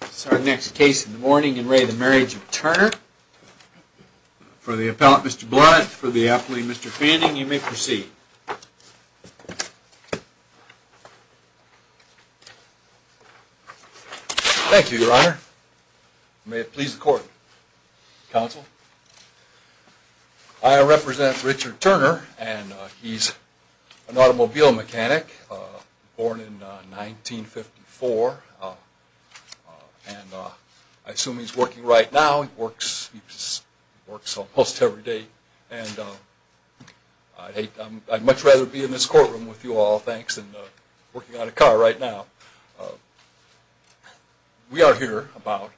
This is our next case in the morning in re the Marriage of Turner. For the appellate Mr. Blunt, for the appellate Mr. Fanning, you may proceed. Thank you, your honor. May it please the court. Counsel. I represent Richard Turner, and he's an automobile mechanic, born in 1954. And I assume he's working right now. He works almost every day. And I'd much rather be in this courtroom with you all, thanks, than working on a car right now. We are here about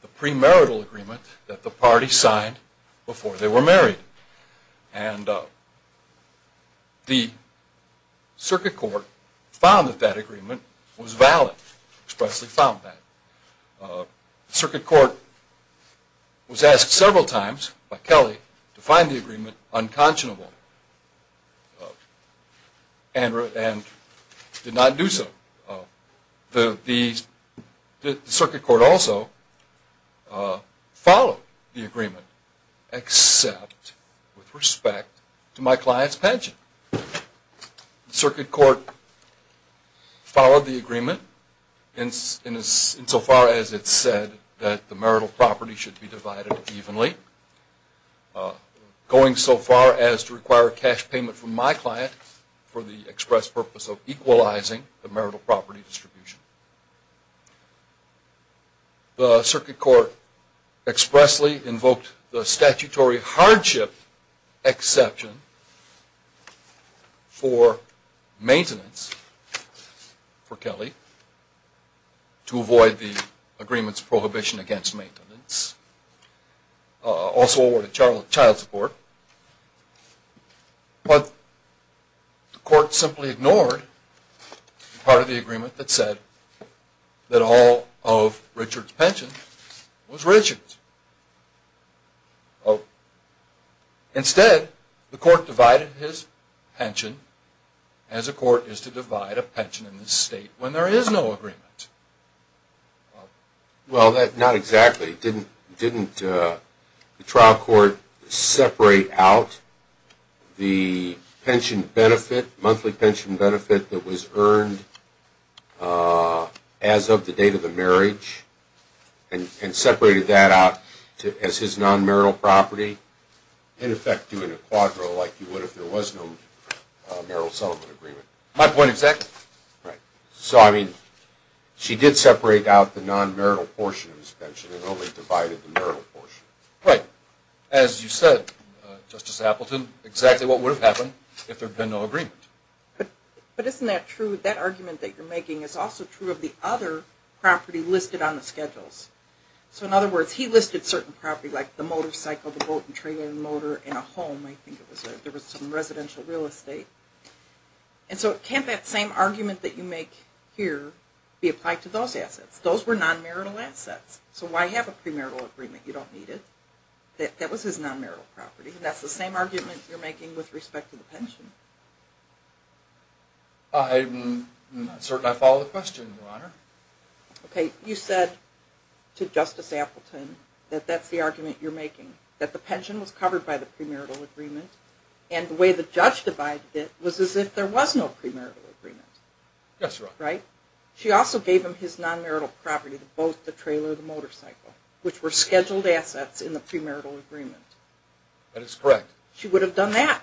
the premarital agreement that the party signed before they were married. And the circuit court found that that agreement was valid, expressly found that. The circuit court was asked several times by Kelly to find the agreement unconscionable, and did not do so. The circuit court also followed the agreement, except with respect to my client's pension. The circuit court followed the agreement insofar as it said that the marital property should be divided evenly, going so far as to require a cash payment from my client for the express purpose of equalizing the marital property distribution. The circuit court expressly invoked the statutory hardship exception for maintenance for Kelly, to avoid the agreement's prohibition against maintenance. Also awarded child support. But the court simply ignored part of the agreement that said that all of Richard's pension was Richard's. Instead, the court divided his pension, as a court is to divide a pension in this state when there is no agreement. Well, not exactly. Didn't the trial court separate out the monthly pension benefit that was earned as of the date of the marriage, and separated that out as his non-marital property, in effect doing a quadro like you would if there was no marital settlement agreement? My point exactly. So, I mean, she did separate out the non-marital portion of his pension and only divided the marital portion. Right. As you said, Justice Appleton, exactly what would have happened if there had been no agreement. But isn't that true? That argument that you're making is also true of the other property listed on the schedules. So, in other words, he listed certain properties, like the motorcycle, the boat and trailer, the motor, and a home. I think there was some residential real estate. And so can't that same argument that you make here be applied to those assets? Those were non-marital assets. So why have a premarital agreement? You don't need it. That was his non-marital property. And that's the same argument you're making with respect to the pension. I'm not certain I follow the question, Your Honor. Okay, you said to Justice Appleton that that's the argument you're making, that the pension was covered by the premarital agreement, and the way the judge divided it was as if there was no premarital agreement. Yes, Your Honor. Right? She also gave him his non-marital property, the boat, the trailer, the motorcycle, which were scheduled assets in the premarital agreement. That is correct. She would have done that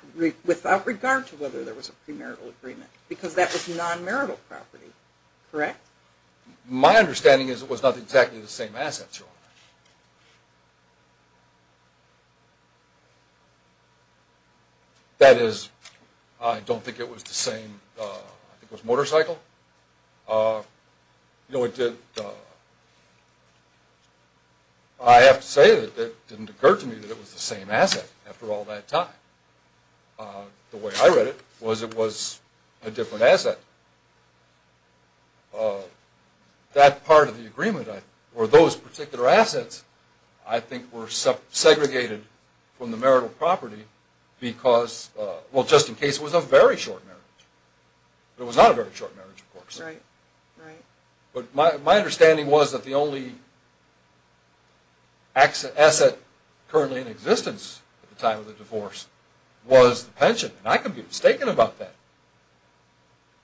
without regard to whether there was a premarital agreement, because that was non-marital property. Correct? My understanding is it was not exactly the same assets, Your Honor. That is, I don't think it was the same motorcycle. I have to say that it didn't occur to me that it was the same asset after all that time. The way I read it was it was a different asset. That part of the agreement, or those particular assets, I think were segregated from the marital property because, well, just in case it was a very short marriage. It was not a very short marriage, of course. But my understanding was that the only asset currently in existence at the time of the divorce was the pension, and I could be mistaken about that.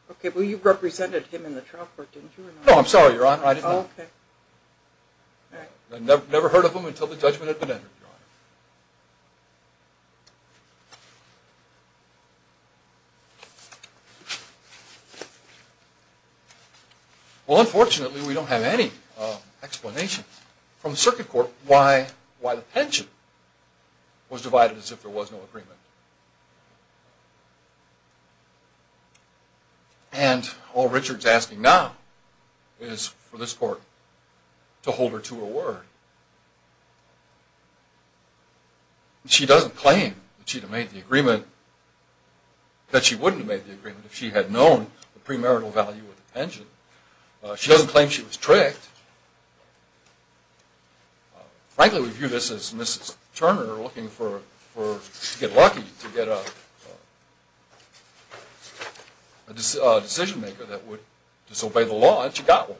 Okay, but you represented him in the trial court, didn't you? No, I'm sorry, Your Honor. I didn't. Okay. I never heard of him until the judgment had been entered, Your Honor. Well, unfortunately, we don't have any explanation from the circuit court why the pension was divided as if there was no agreement. And all Richard's asking now is for this court to hold her to her word. She doesn't claim that she wouldn't have made the agreement if she had known the premarital value of the pension. She doesn't claim she was tricked. Frankly, we view this as Mrs. Turner looking to get lucky, to get a decision maker that would disobey the law, and she got one.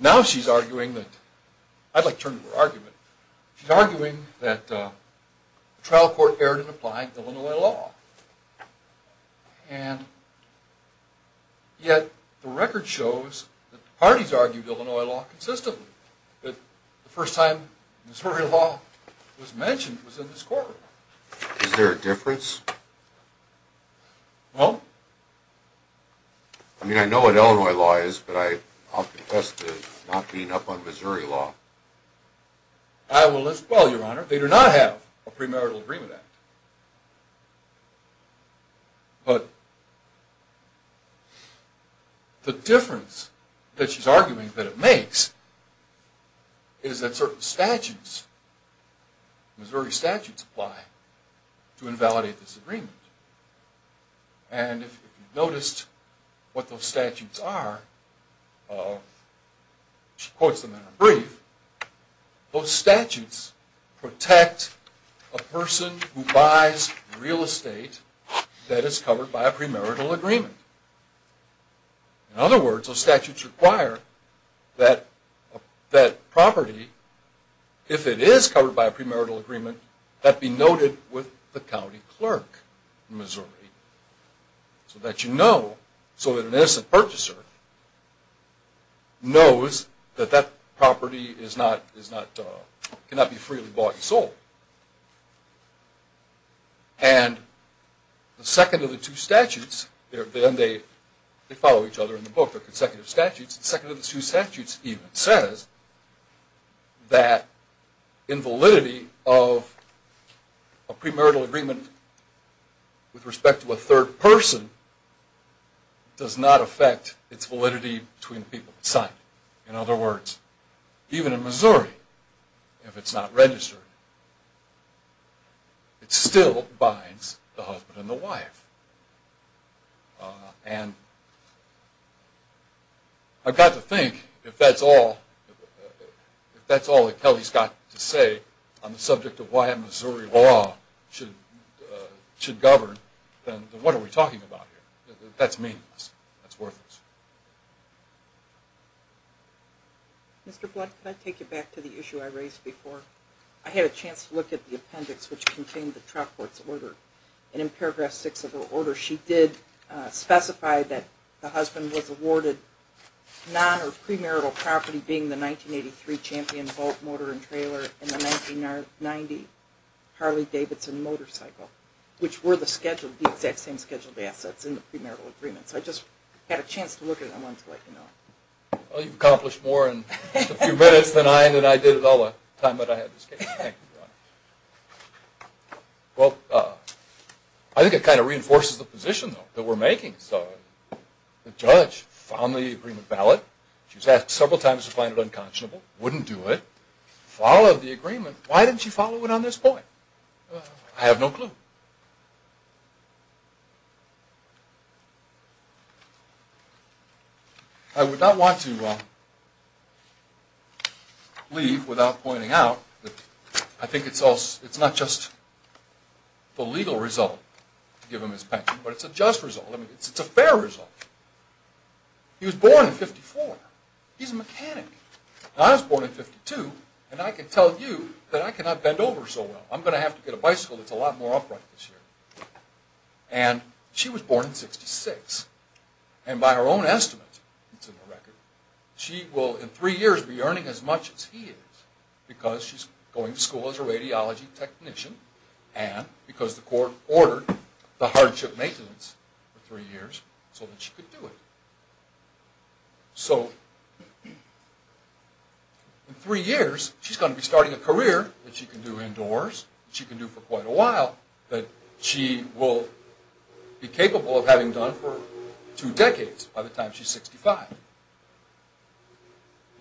Now she's arguing that – I'd like to turn to her argument – she's arguing that the trial court erred in applying Illinois law. And yet the record shows that the parties argued Illinois law consistently, that the first time Missouri law was mentioned was in this courtroom. Is there a difference? No. I mean, I know what Illinois law is, but I'll confess to not being up on Missouri law. I will as well, Your Honor. They do not have a premarital agreement act. But the difference that she's arguing that it makes is that certain statutes, Missouri statutes, apply to invalidate this agreement. And if you've noticed what those statutes are, she quotes them in her brief. Those statutes protect a person who buys real estate that is covered by a premarital agreement. In other words, those statutes require that property, if it is covered by a premarital agreement, that be noted with the county clerk in Missouri. So that you know, so that an innocent purchaser knows that that property cannot be freely bought and sold. And the second of the two statutes, and they follow each other in the book, they're consecutive statutes, the second of the two statutes even says that invalidity of a premarital agreement with respect to a third person does not affect its validity between the people that sign it. In other words, even in Missouri, if it's not registered, it still binds the husband and the wife. And I've got to think, if that's all, if that's all that Kelly's got to say on the subject of why Missouri law should govern, then what are we talking about here? That's meaningless. That's worthless. Mr. Blood, can I take you back to the issue I raised before? I had a chance to look at the appendix which contained the Troutcourt's order. And in paragraph six of her order, she did specify that the husband was awarded non- or premarital property, champion boat, motor, and trailer, and the 1990 Harley-Davidson motorcycle, which were the exact same scheduled assets in the premarital agreement. So I just had a chance to look at it and wanted to let you know. Well, you've accomplished more in a few minutes than I did in all the time that I had this case. Well, I think it kind of reinforces the position that we're making. The judge found the agreement valid. She was asked several times to find it unconscionable. Wouldn't do it. Followed the agreement. Why didn't she follow it on this point? I have no clue. I would not want to leave without pointing out that I think it's not just the legal result to give him his pension, but it's a just result. It's a fair result. He was born in 1954. He's a mechanic. I was born in 1952, and I can tell you that I cannot bend over so well. I'm going to have to get a bicycle that's a lot more upright this year. And she was born in 1966. And by her own estimate, it's in the record, she will in three years be earning as much as he is because she's going to school as a radiology technician and because the court ordered the hardship maintenance for three years so that she could do it. So in three years, she's going to be starting a career that she can do indoors, that she can do for quite a while, that she will be capable of having done for two decades by the time she's 65.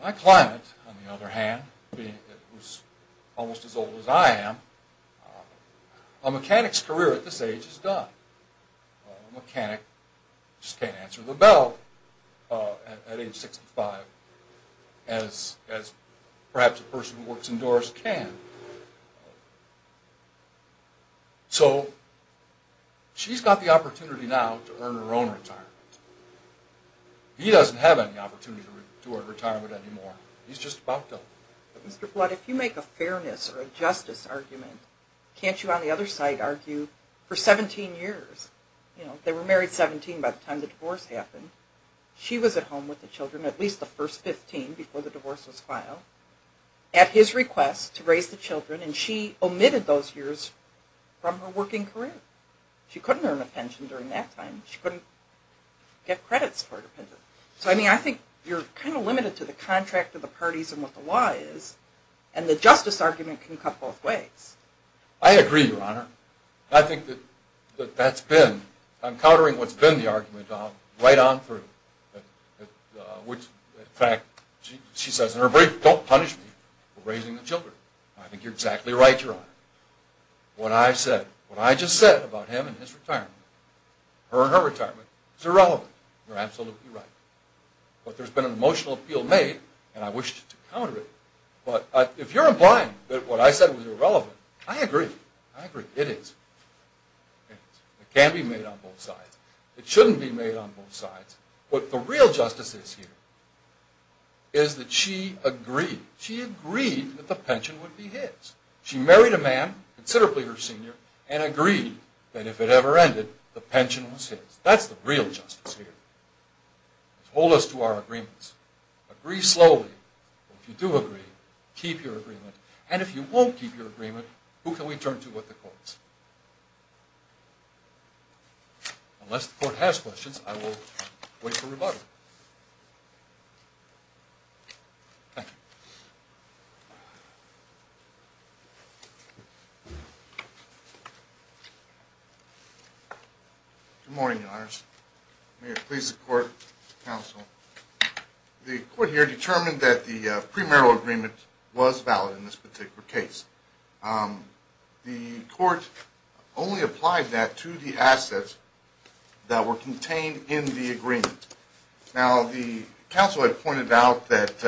My client, on the other hand, being almost as old as I am, a mechanic's career at this age is done. A mechanic just can't answer the bell at age 65 as perhaps a person who works indoors can. So she's got the opportunity now to earn her own retirement. He doesn't have any opportunity to earn retirement anymore. He's just about done. Mr. Blood, if you make a fairness or a justice argument, can't you on the other side argue for 17 years? They were married 17 by the time the divorce happened. She was at home with the children at least the first 15 before the divorce was filed. At his request to raise the children and she omitted those years from her working career. She couldn't earn a pension during that time. She couldn't get credits for it. So I mean I think you're kind of limited to the contract of the parties and what the law is and the justice argument can come both ways. I agree, Your Honor. I think that that's been, I'm countering what's been the argument right on through. In fact, she says in her brief, don't punish me for raising the children. I think you're exactly right, Your Honor. What I said, what I just said about him and his retirement, her and her retirement is irrelevant. You're absolutely right. But there's been an emotional appeal made and I wish to counter it. But if you're implying that what I said was irrelevant, I agree. I agree. It is. It can be made on both sides. It shouldn't be made on both sides. What the real justice is here is that she agreed. She agreed that the pension would be his. She married a man, considerably her senior, and agreed that if it ever ended, the pension was his. That's the real justice here. Hold us to our agreements. Agree slowly. If you do agree, keep your agreement. And if you won't keep your agreement, who can we turn to but the courts? Unless the court has questions, I will wait for rebuttal. Good morning, Your Honors. May it please the court, counsel. The court here determined that the premarital agreement was valid in this particular case. The court only applied that to the assets that were contained in the agreement. Now, the counsel had pointed out that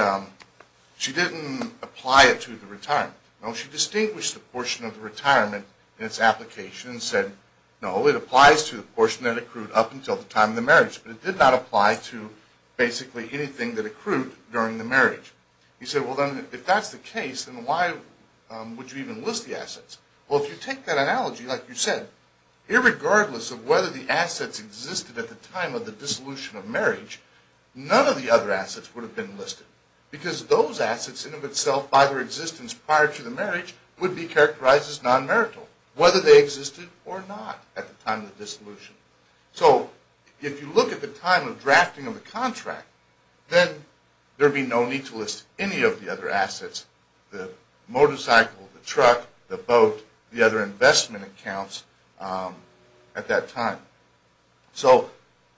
she didn't apply it to the retirement. No, she distinguished the portion of the retirement in its application and said, no, it applies to the portion that accrued up until the time of the marriage. But it did not apply to basically anything that accrued during the marriage. He said, well, then, if that's the case, then why would you even list the assets? Well, if you take that analogy, like you said, irregardless of whether the assets existed at the time of the dissolution of marriage, none of the other assets would have been listed. Because those assets, in and of itself, by their existence prior to the marriage, would be characterized as non-marital, whether they existed or not at the time of the dissolution. So, if you look at the time of drafting of the contract, then there would be no need to list any of the other assets, the motorcycle, the truck, the boat, the other investment accounts at that time. So,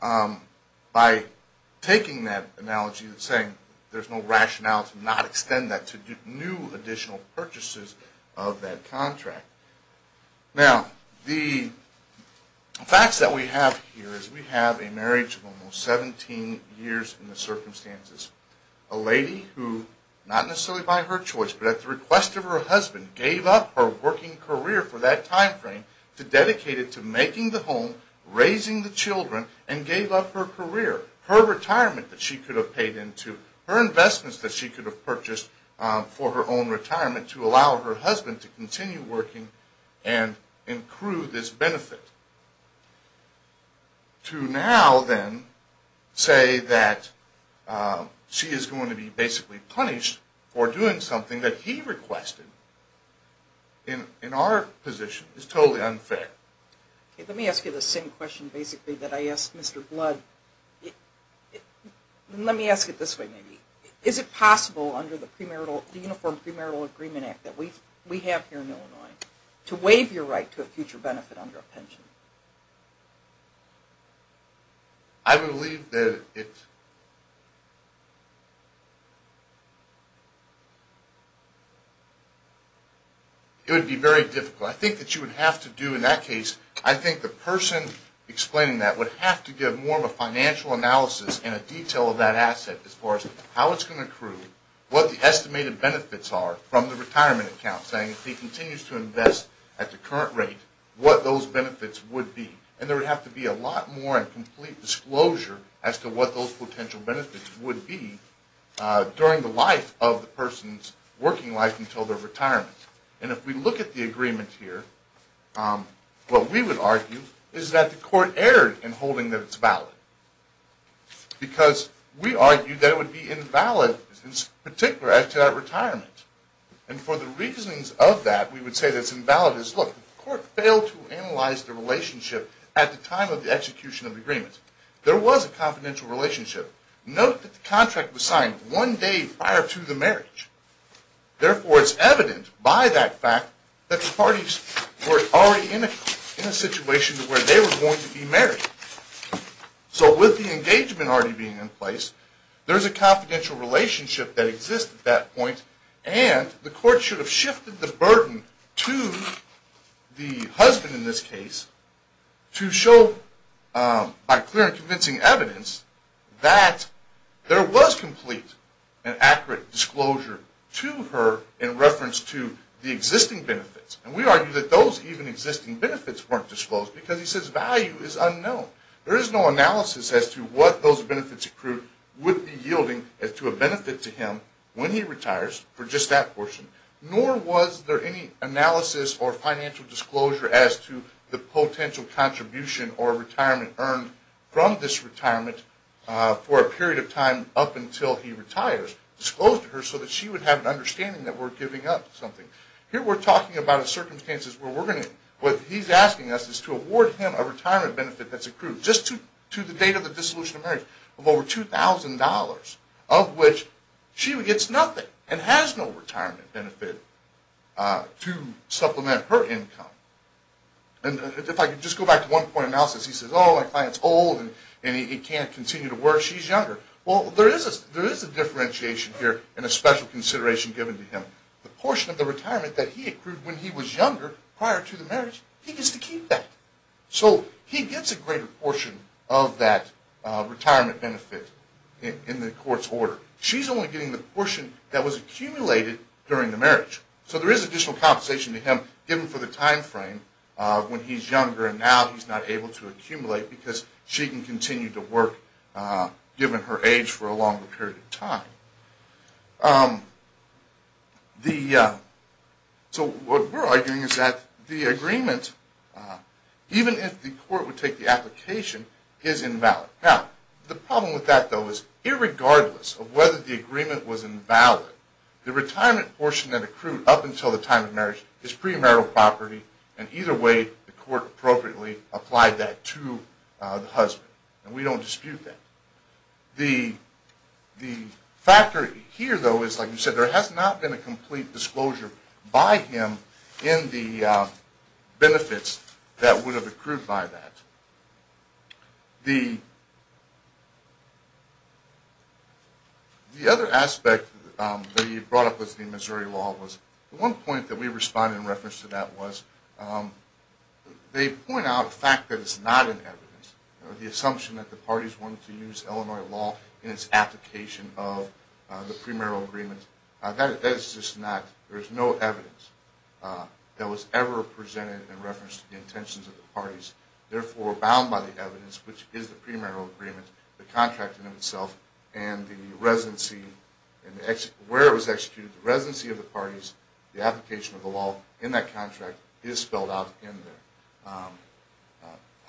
by taking that analogy and saying there's no rationale to not extend that to new additional purchases of that contract. Now, the facts that we have here is we have a marriage of almost 17 years in the circumstances. A lady who, not necessarily by her choice, but at the request of her husband, gave up her working career for that time frame to dedicate it to making the home, raising the children, and gave up her career. Her retirement that she could have paid into, her investments that she could have purchased for her own retirement to allow her husband to continue working and accrue this benefit. To now, then, say that she is going to be basically punished for doing something that he requested, in our position, is totally unfair. Let me ask you the same question, basically, that I asked Mr. Blood. Let me ask it this way, maybe. Is it possible under the Uniform Premarital Agreement Act that we have here in Illinois to waive your right to a future benefit under a pension? I believe that it would be very difficult. I think that you would have to do, in that case, I think the person explaining that would have to give more of a financial analysis and a detail of that asset as far as how it's going to accrue, what the estimated benefits are from the retirement account, saying if he continues to invest at the current rate, what those benefits would be. There would have to be a lot more and complete disclosure as to what those potential benefits would be during the life of the person's working life until their retirement. If we look at the agreement here, what we would argue is that the court erred in holding that it's valid because we argued that it would be invalid, in particular, after that retirement. And for the reasons of that, we would say that it's invalid. Look, the court failed to analyze the relationship at the time of the execution of the agreement. There was a confidential relationship. Note that the contract was signed one day prior to the marriage. Therefore, it's evident by that fact that the parties were already in a situation to where they were going to be married. So with the engagement already being in place, there's a confidential relationship that exists at that point, and the court should have shifted the burden to the husband in this case to show by clear and convincing evidence that there was complete and accurate disclosure to her in reference to the existing benefits. And we argue that those even existing benefits weren't disclosed because he says value is unknown. There is no analysis as to what those benefits accrued would be yielding as to a benefit to him when he retires for just that portion, nor was there any analysis or financial disclosure as to the potential contribution or retirement earned from this retirement for a period of time up until he retires disclosed to her so that she would have an understanding that we're giving up something. Here we're talking about a circumstance where what he's asking us is to award him a retirement benefit that's accrued just to the date of the dissolution of marriage of over $2,000, of which she gets nothing and has no retirement benefit to supplement her income. And if I could just go back to one point of analysis, he says, oh, my client's old and he can't continue to work. She's younger. Well, there is a differentiation here and a special consideration given to him. The portion of the retirement that he accrued when he was younger prior to the marriage, he gets to keep that. So he gets a greater portion of that retirement benefit in the court's order. She's only getting the portion that was accumulated during the marriage. So there is additional compensation to him given for the time frame when he's younger and now he's not able to accumulate because she can continue to work given her age for a longer period of time. So what we're arguing is that the agreement, even if the court would take the application, is invalid. Now, the problem with that, though, is irregardless of whether the agreement was invalid, the retirement portion that accrued up until the time of marriage is premarital property and either way the court appropriately applied that to the husband. And we don't dispute that. The factor here, though, is, like you said, there has not been a complete disclosure by him in the benefits that would have accrued by that. The other aspect that you brought up was the Missouri law. The one point that we responded in reference to that was, they point out a fact that is not in evidence. The assumption that the parties wanted to use Illinois law in its application of the premarital agreement, that is just not, there is no evidence that was ever presented in reference to the intentions of the parties. Therefore, bound by the evidence, which is the premarital agreement, the contract in itself, and the residency, where it was executed, the residency of the parties, the application of the law in that contract is spelled out in there.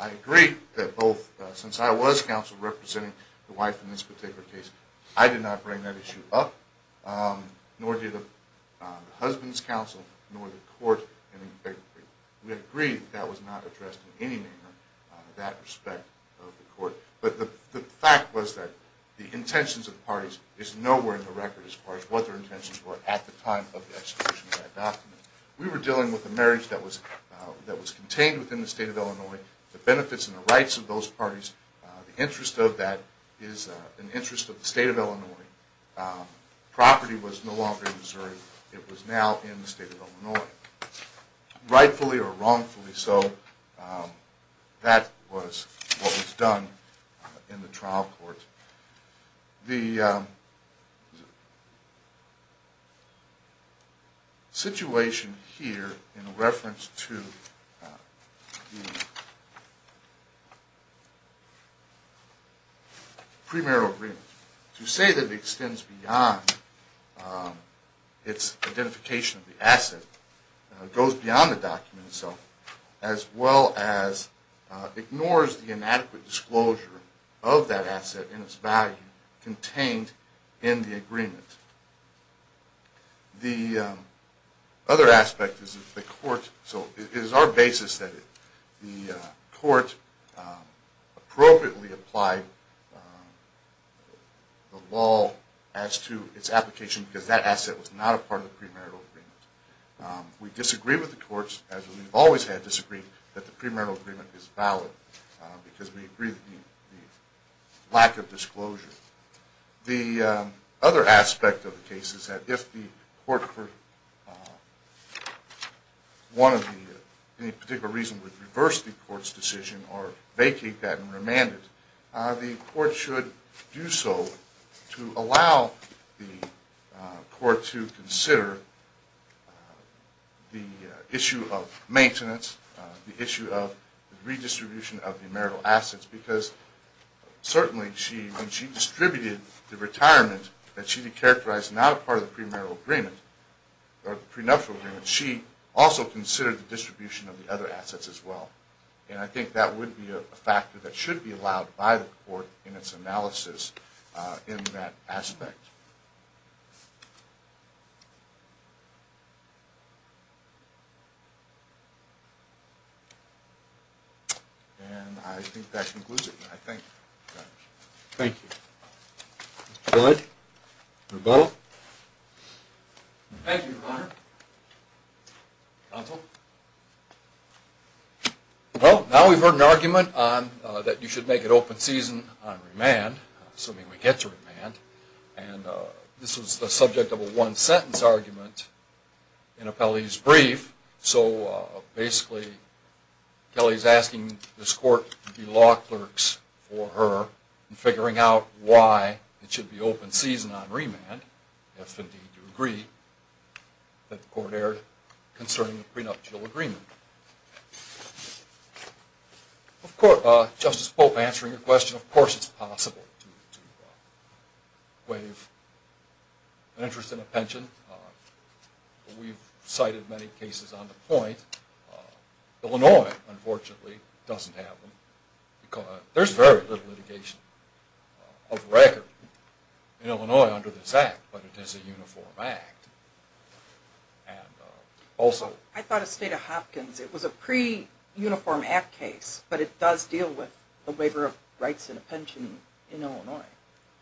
I agree that both, since I was counsel representing the wife in this particular case, I did not bring that issue up, nor did the husband's counsel, nor the court. We agree that was not addressed in any manner in that respect of the court. But the fact was that the intentions of the parties is nowhere in the record as far as what their intentions were at the time of the execution of that document. We were dealing with a marriage that was contained within the state of Illinois. The benefits and the rights of those parties, the interest of that is an interest of the state of Illinois. Property was no longer in Missouri. It was now in the state of Illinois. Rightfully or wrongfully so, that was what was done. In the trial court, the situation here in reference to the premarital agreement, to say that it extends beyond its identification of the asset, goes beyond the document itself, as well as ignores the inadequate disclosure of that asset and its value contained in the agreement. The other aspect is that the court, so it is our basis that the court appropriately applied the law as to its application because that asset was not a part of the premarital agreement. We disagree with the courts, as we've always had disagreed, that the premarital agreement is valid because we agree with the lack of disclosure. The other aspect of the case is that if the court for any particular reason would reverse the court's decision or vacate that and remand it, the court should do so to allow the court to consider the issue of maintenance, the issue of redistribution of the marital assets because certainly when she distributed the retirement, that she characterized as not a part of the premarital agreement, or the prenuptial agreement, she also considered the distribution of the other assets as well. And I think that would be a factor that should be allowed by the court in its analysis in that aspect. And I think that concludes it. Thank you. Thank you. Good. Rebuttal. Thank you, Your Honor. Counsel. Well, now we've heard an argument that you should make it open season on remand, assuming we get to remand, and this was the subject of a one-sentence argument in a police brief, so basically Kelly's asking this court to be law clerks for her in figuring out why it should be open season on remand if indeed you agree that the court erred concerning the prenuptial agreement. Of course, Justice Pope, answering your question, of course it's possible to waive an interest in a pension. We've cited many cases on the point. Illinois, unfortunately, doesn't have them because there's very little litigation of record in Illinois under this act, but it is a uniform act. And also... I thought of State of Hopkins. It was a pre-uniform act case, but it does deal with the waiver of rights in a pension in Illinois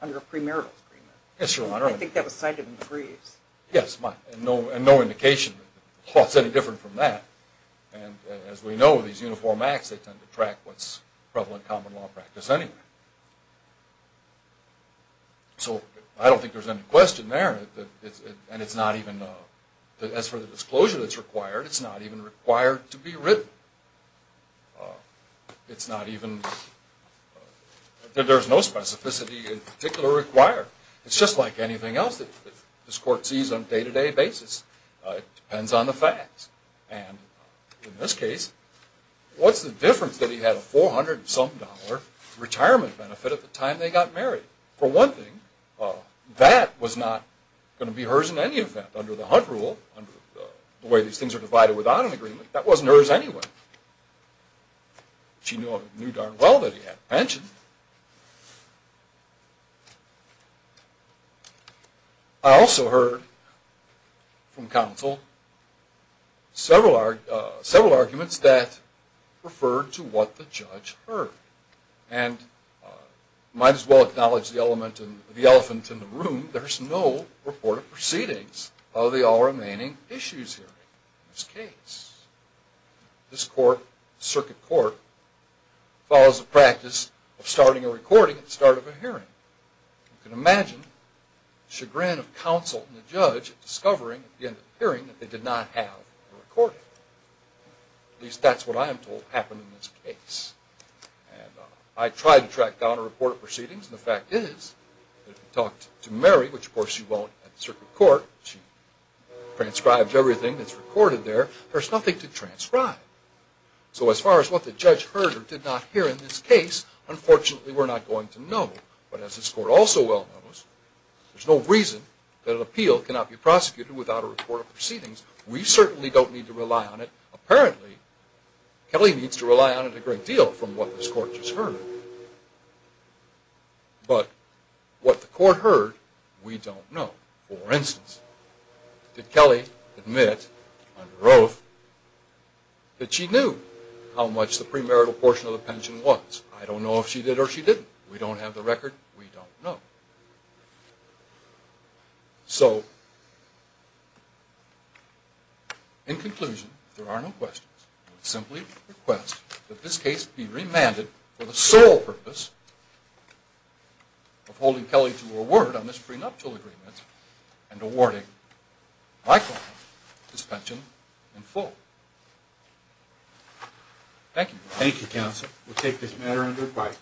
under a premarital agreement. Yes, Your Honor. I think that was cited in the briefs. Yes, and no indication that the law's any different from that, and as we know, these uniform acts, they tend to track what's prevalent common law practice anyway. So I don't think there's any question there, and it's not even... As for the disclosure that's required, it's not even required to be written. It's not even... There's no specificity in particular required. It's just like anything else that this court sees on a day-to-day basis. It depends on the facts. And in this case, what's the difference that he had a $400-some retirement benefit at the time they got married? For one thing, that was not going to be hers in any event. Under the Hunt rule, under the way these things are divided without an agreement, that wasn't hers anyway. She knew darn well that he had a pension. I also heard from counsel several arguments that referred to what the judge heard, and might as well acknowledge the elephant in the room, there's no report of proceedings of the all-remaining issues hearing in this case. This court, the circuit court, follows the practice of starting a recording at the start of a hearing. You can imagine the chagrin of counsel and the judge at discovering at the end of the hearing that they did not have a recording. At least that's what I am told happened in this case. I tried to track down a report of proceedings, and the fact is that if you talked to Mary, which of course she won't at the circuit court, she transcribed everything that's recorded there, there's nothing to transcribe. So as far as what the judge heard or did not hear in this case, unfortunately we're not going to know. But as this court also well knows, there's no reason that an appeal cannot be prosecuted without a report of proceedings. We certainly don't need to rely on it. Apparently, Kelly needs to rely on it a great deal from what this court just heard. But what the court heard, we don't know. For instance, did Kelly admit under oath that she knew how much the premarital portion of the pension was? I don't know if she did or she didn't. We don't have the record. We don't know. So, in conclusion, if there are no questions, I would simply request that this case be remanded for the sole purpose of holding Kelly to her word on this prenuptial agreement and awarding my client his pension in full. Thank you. Thank you, counsel. We'll take this matter under advice.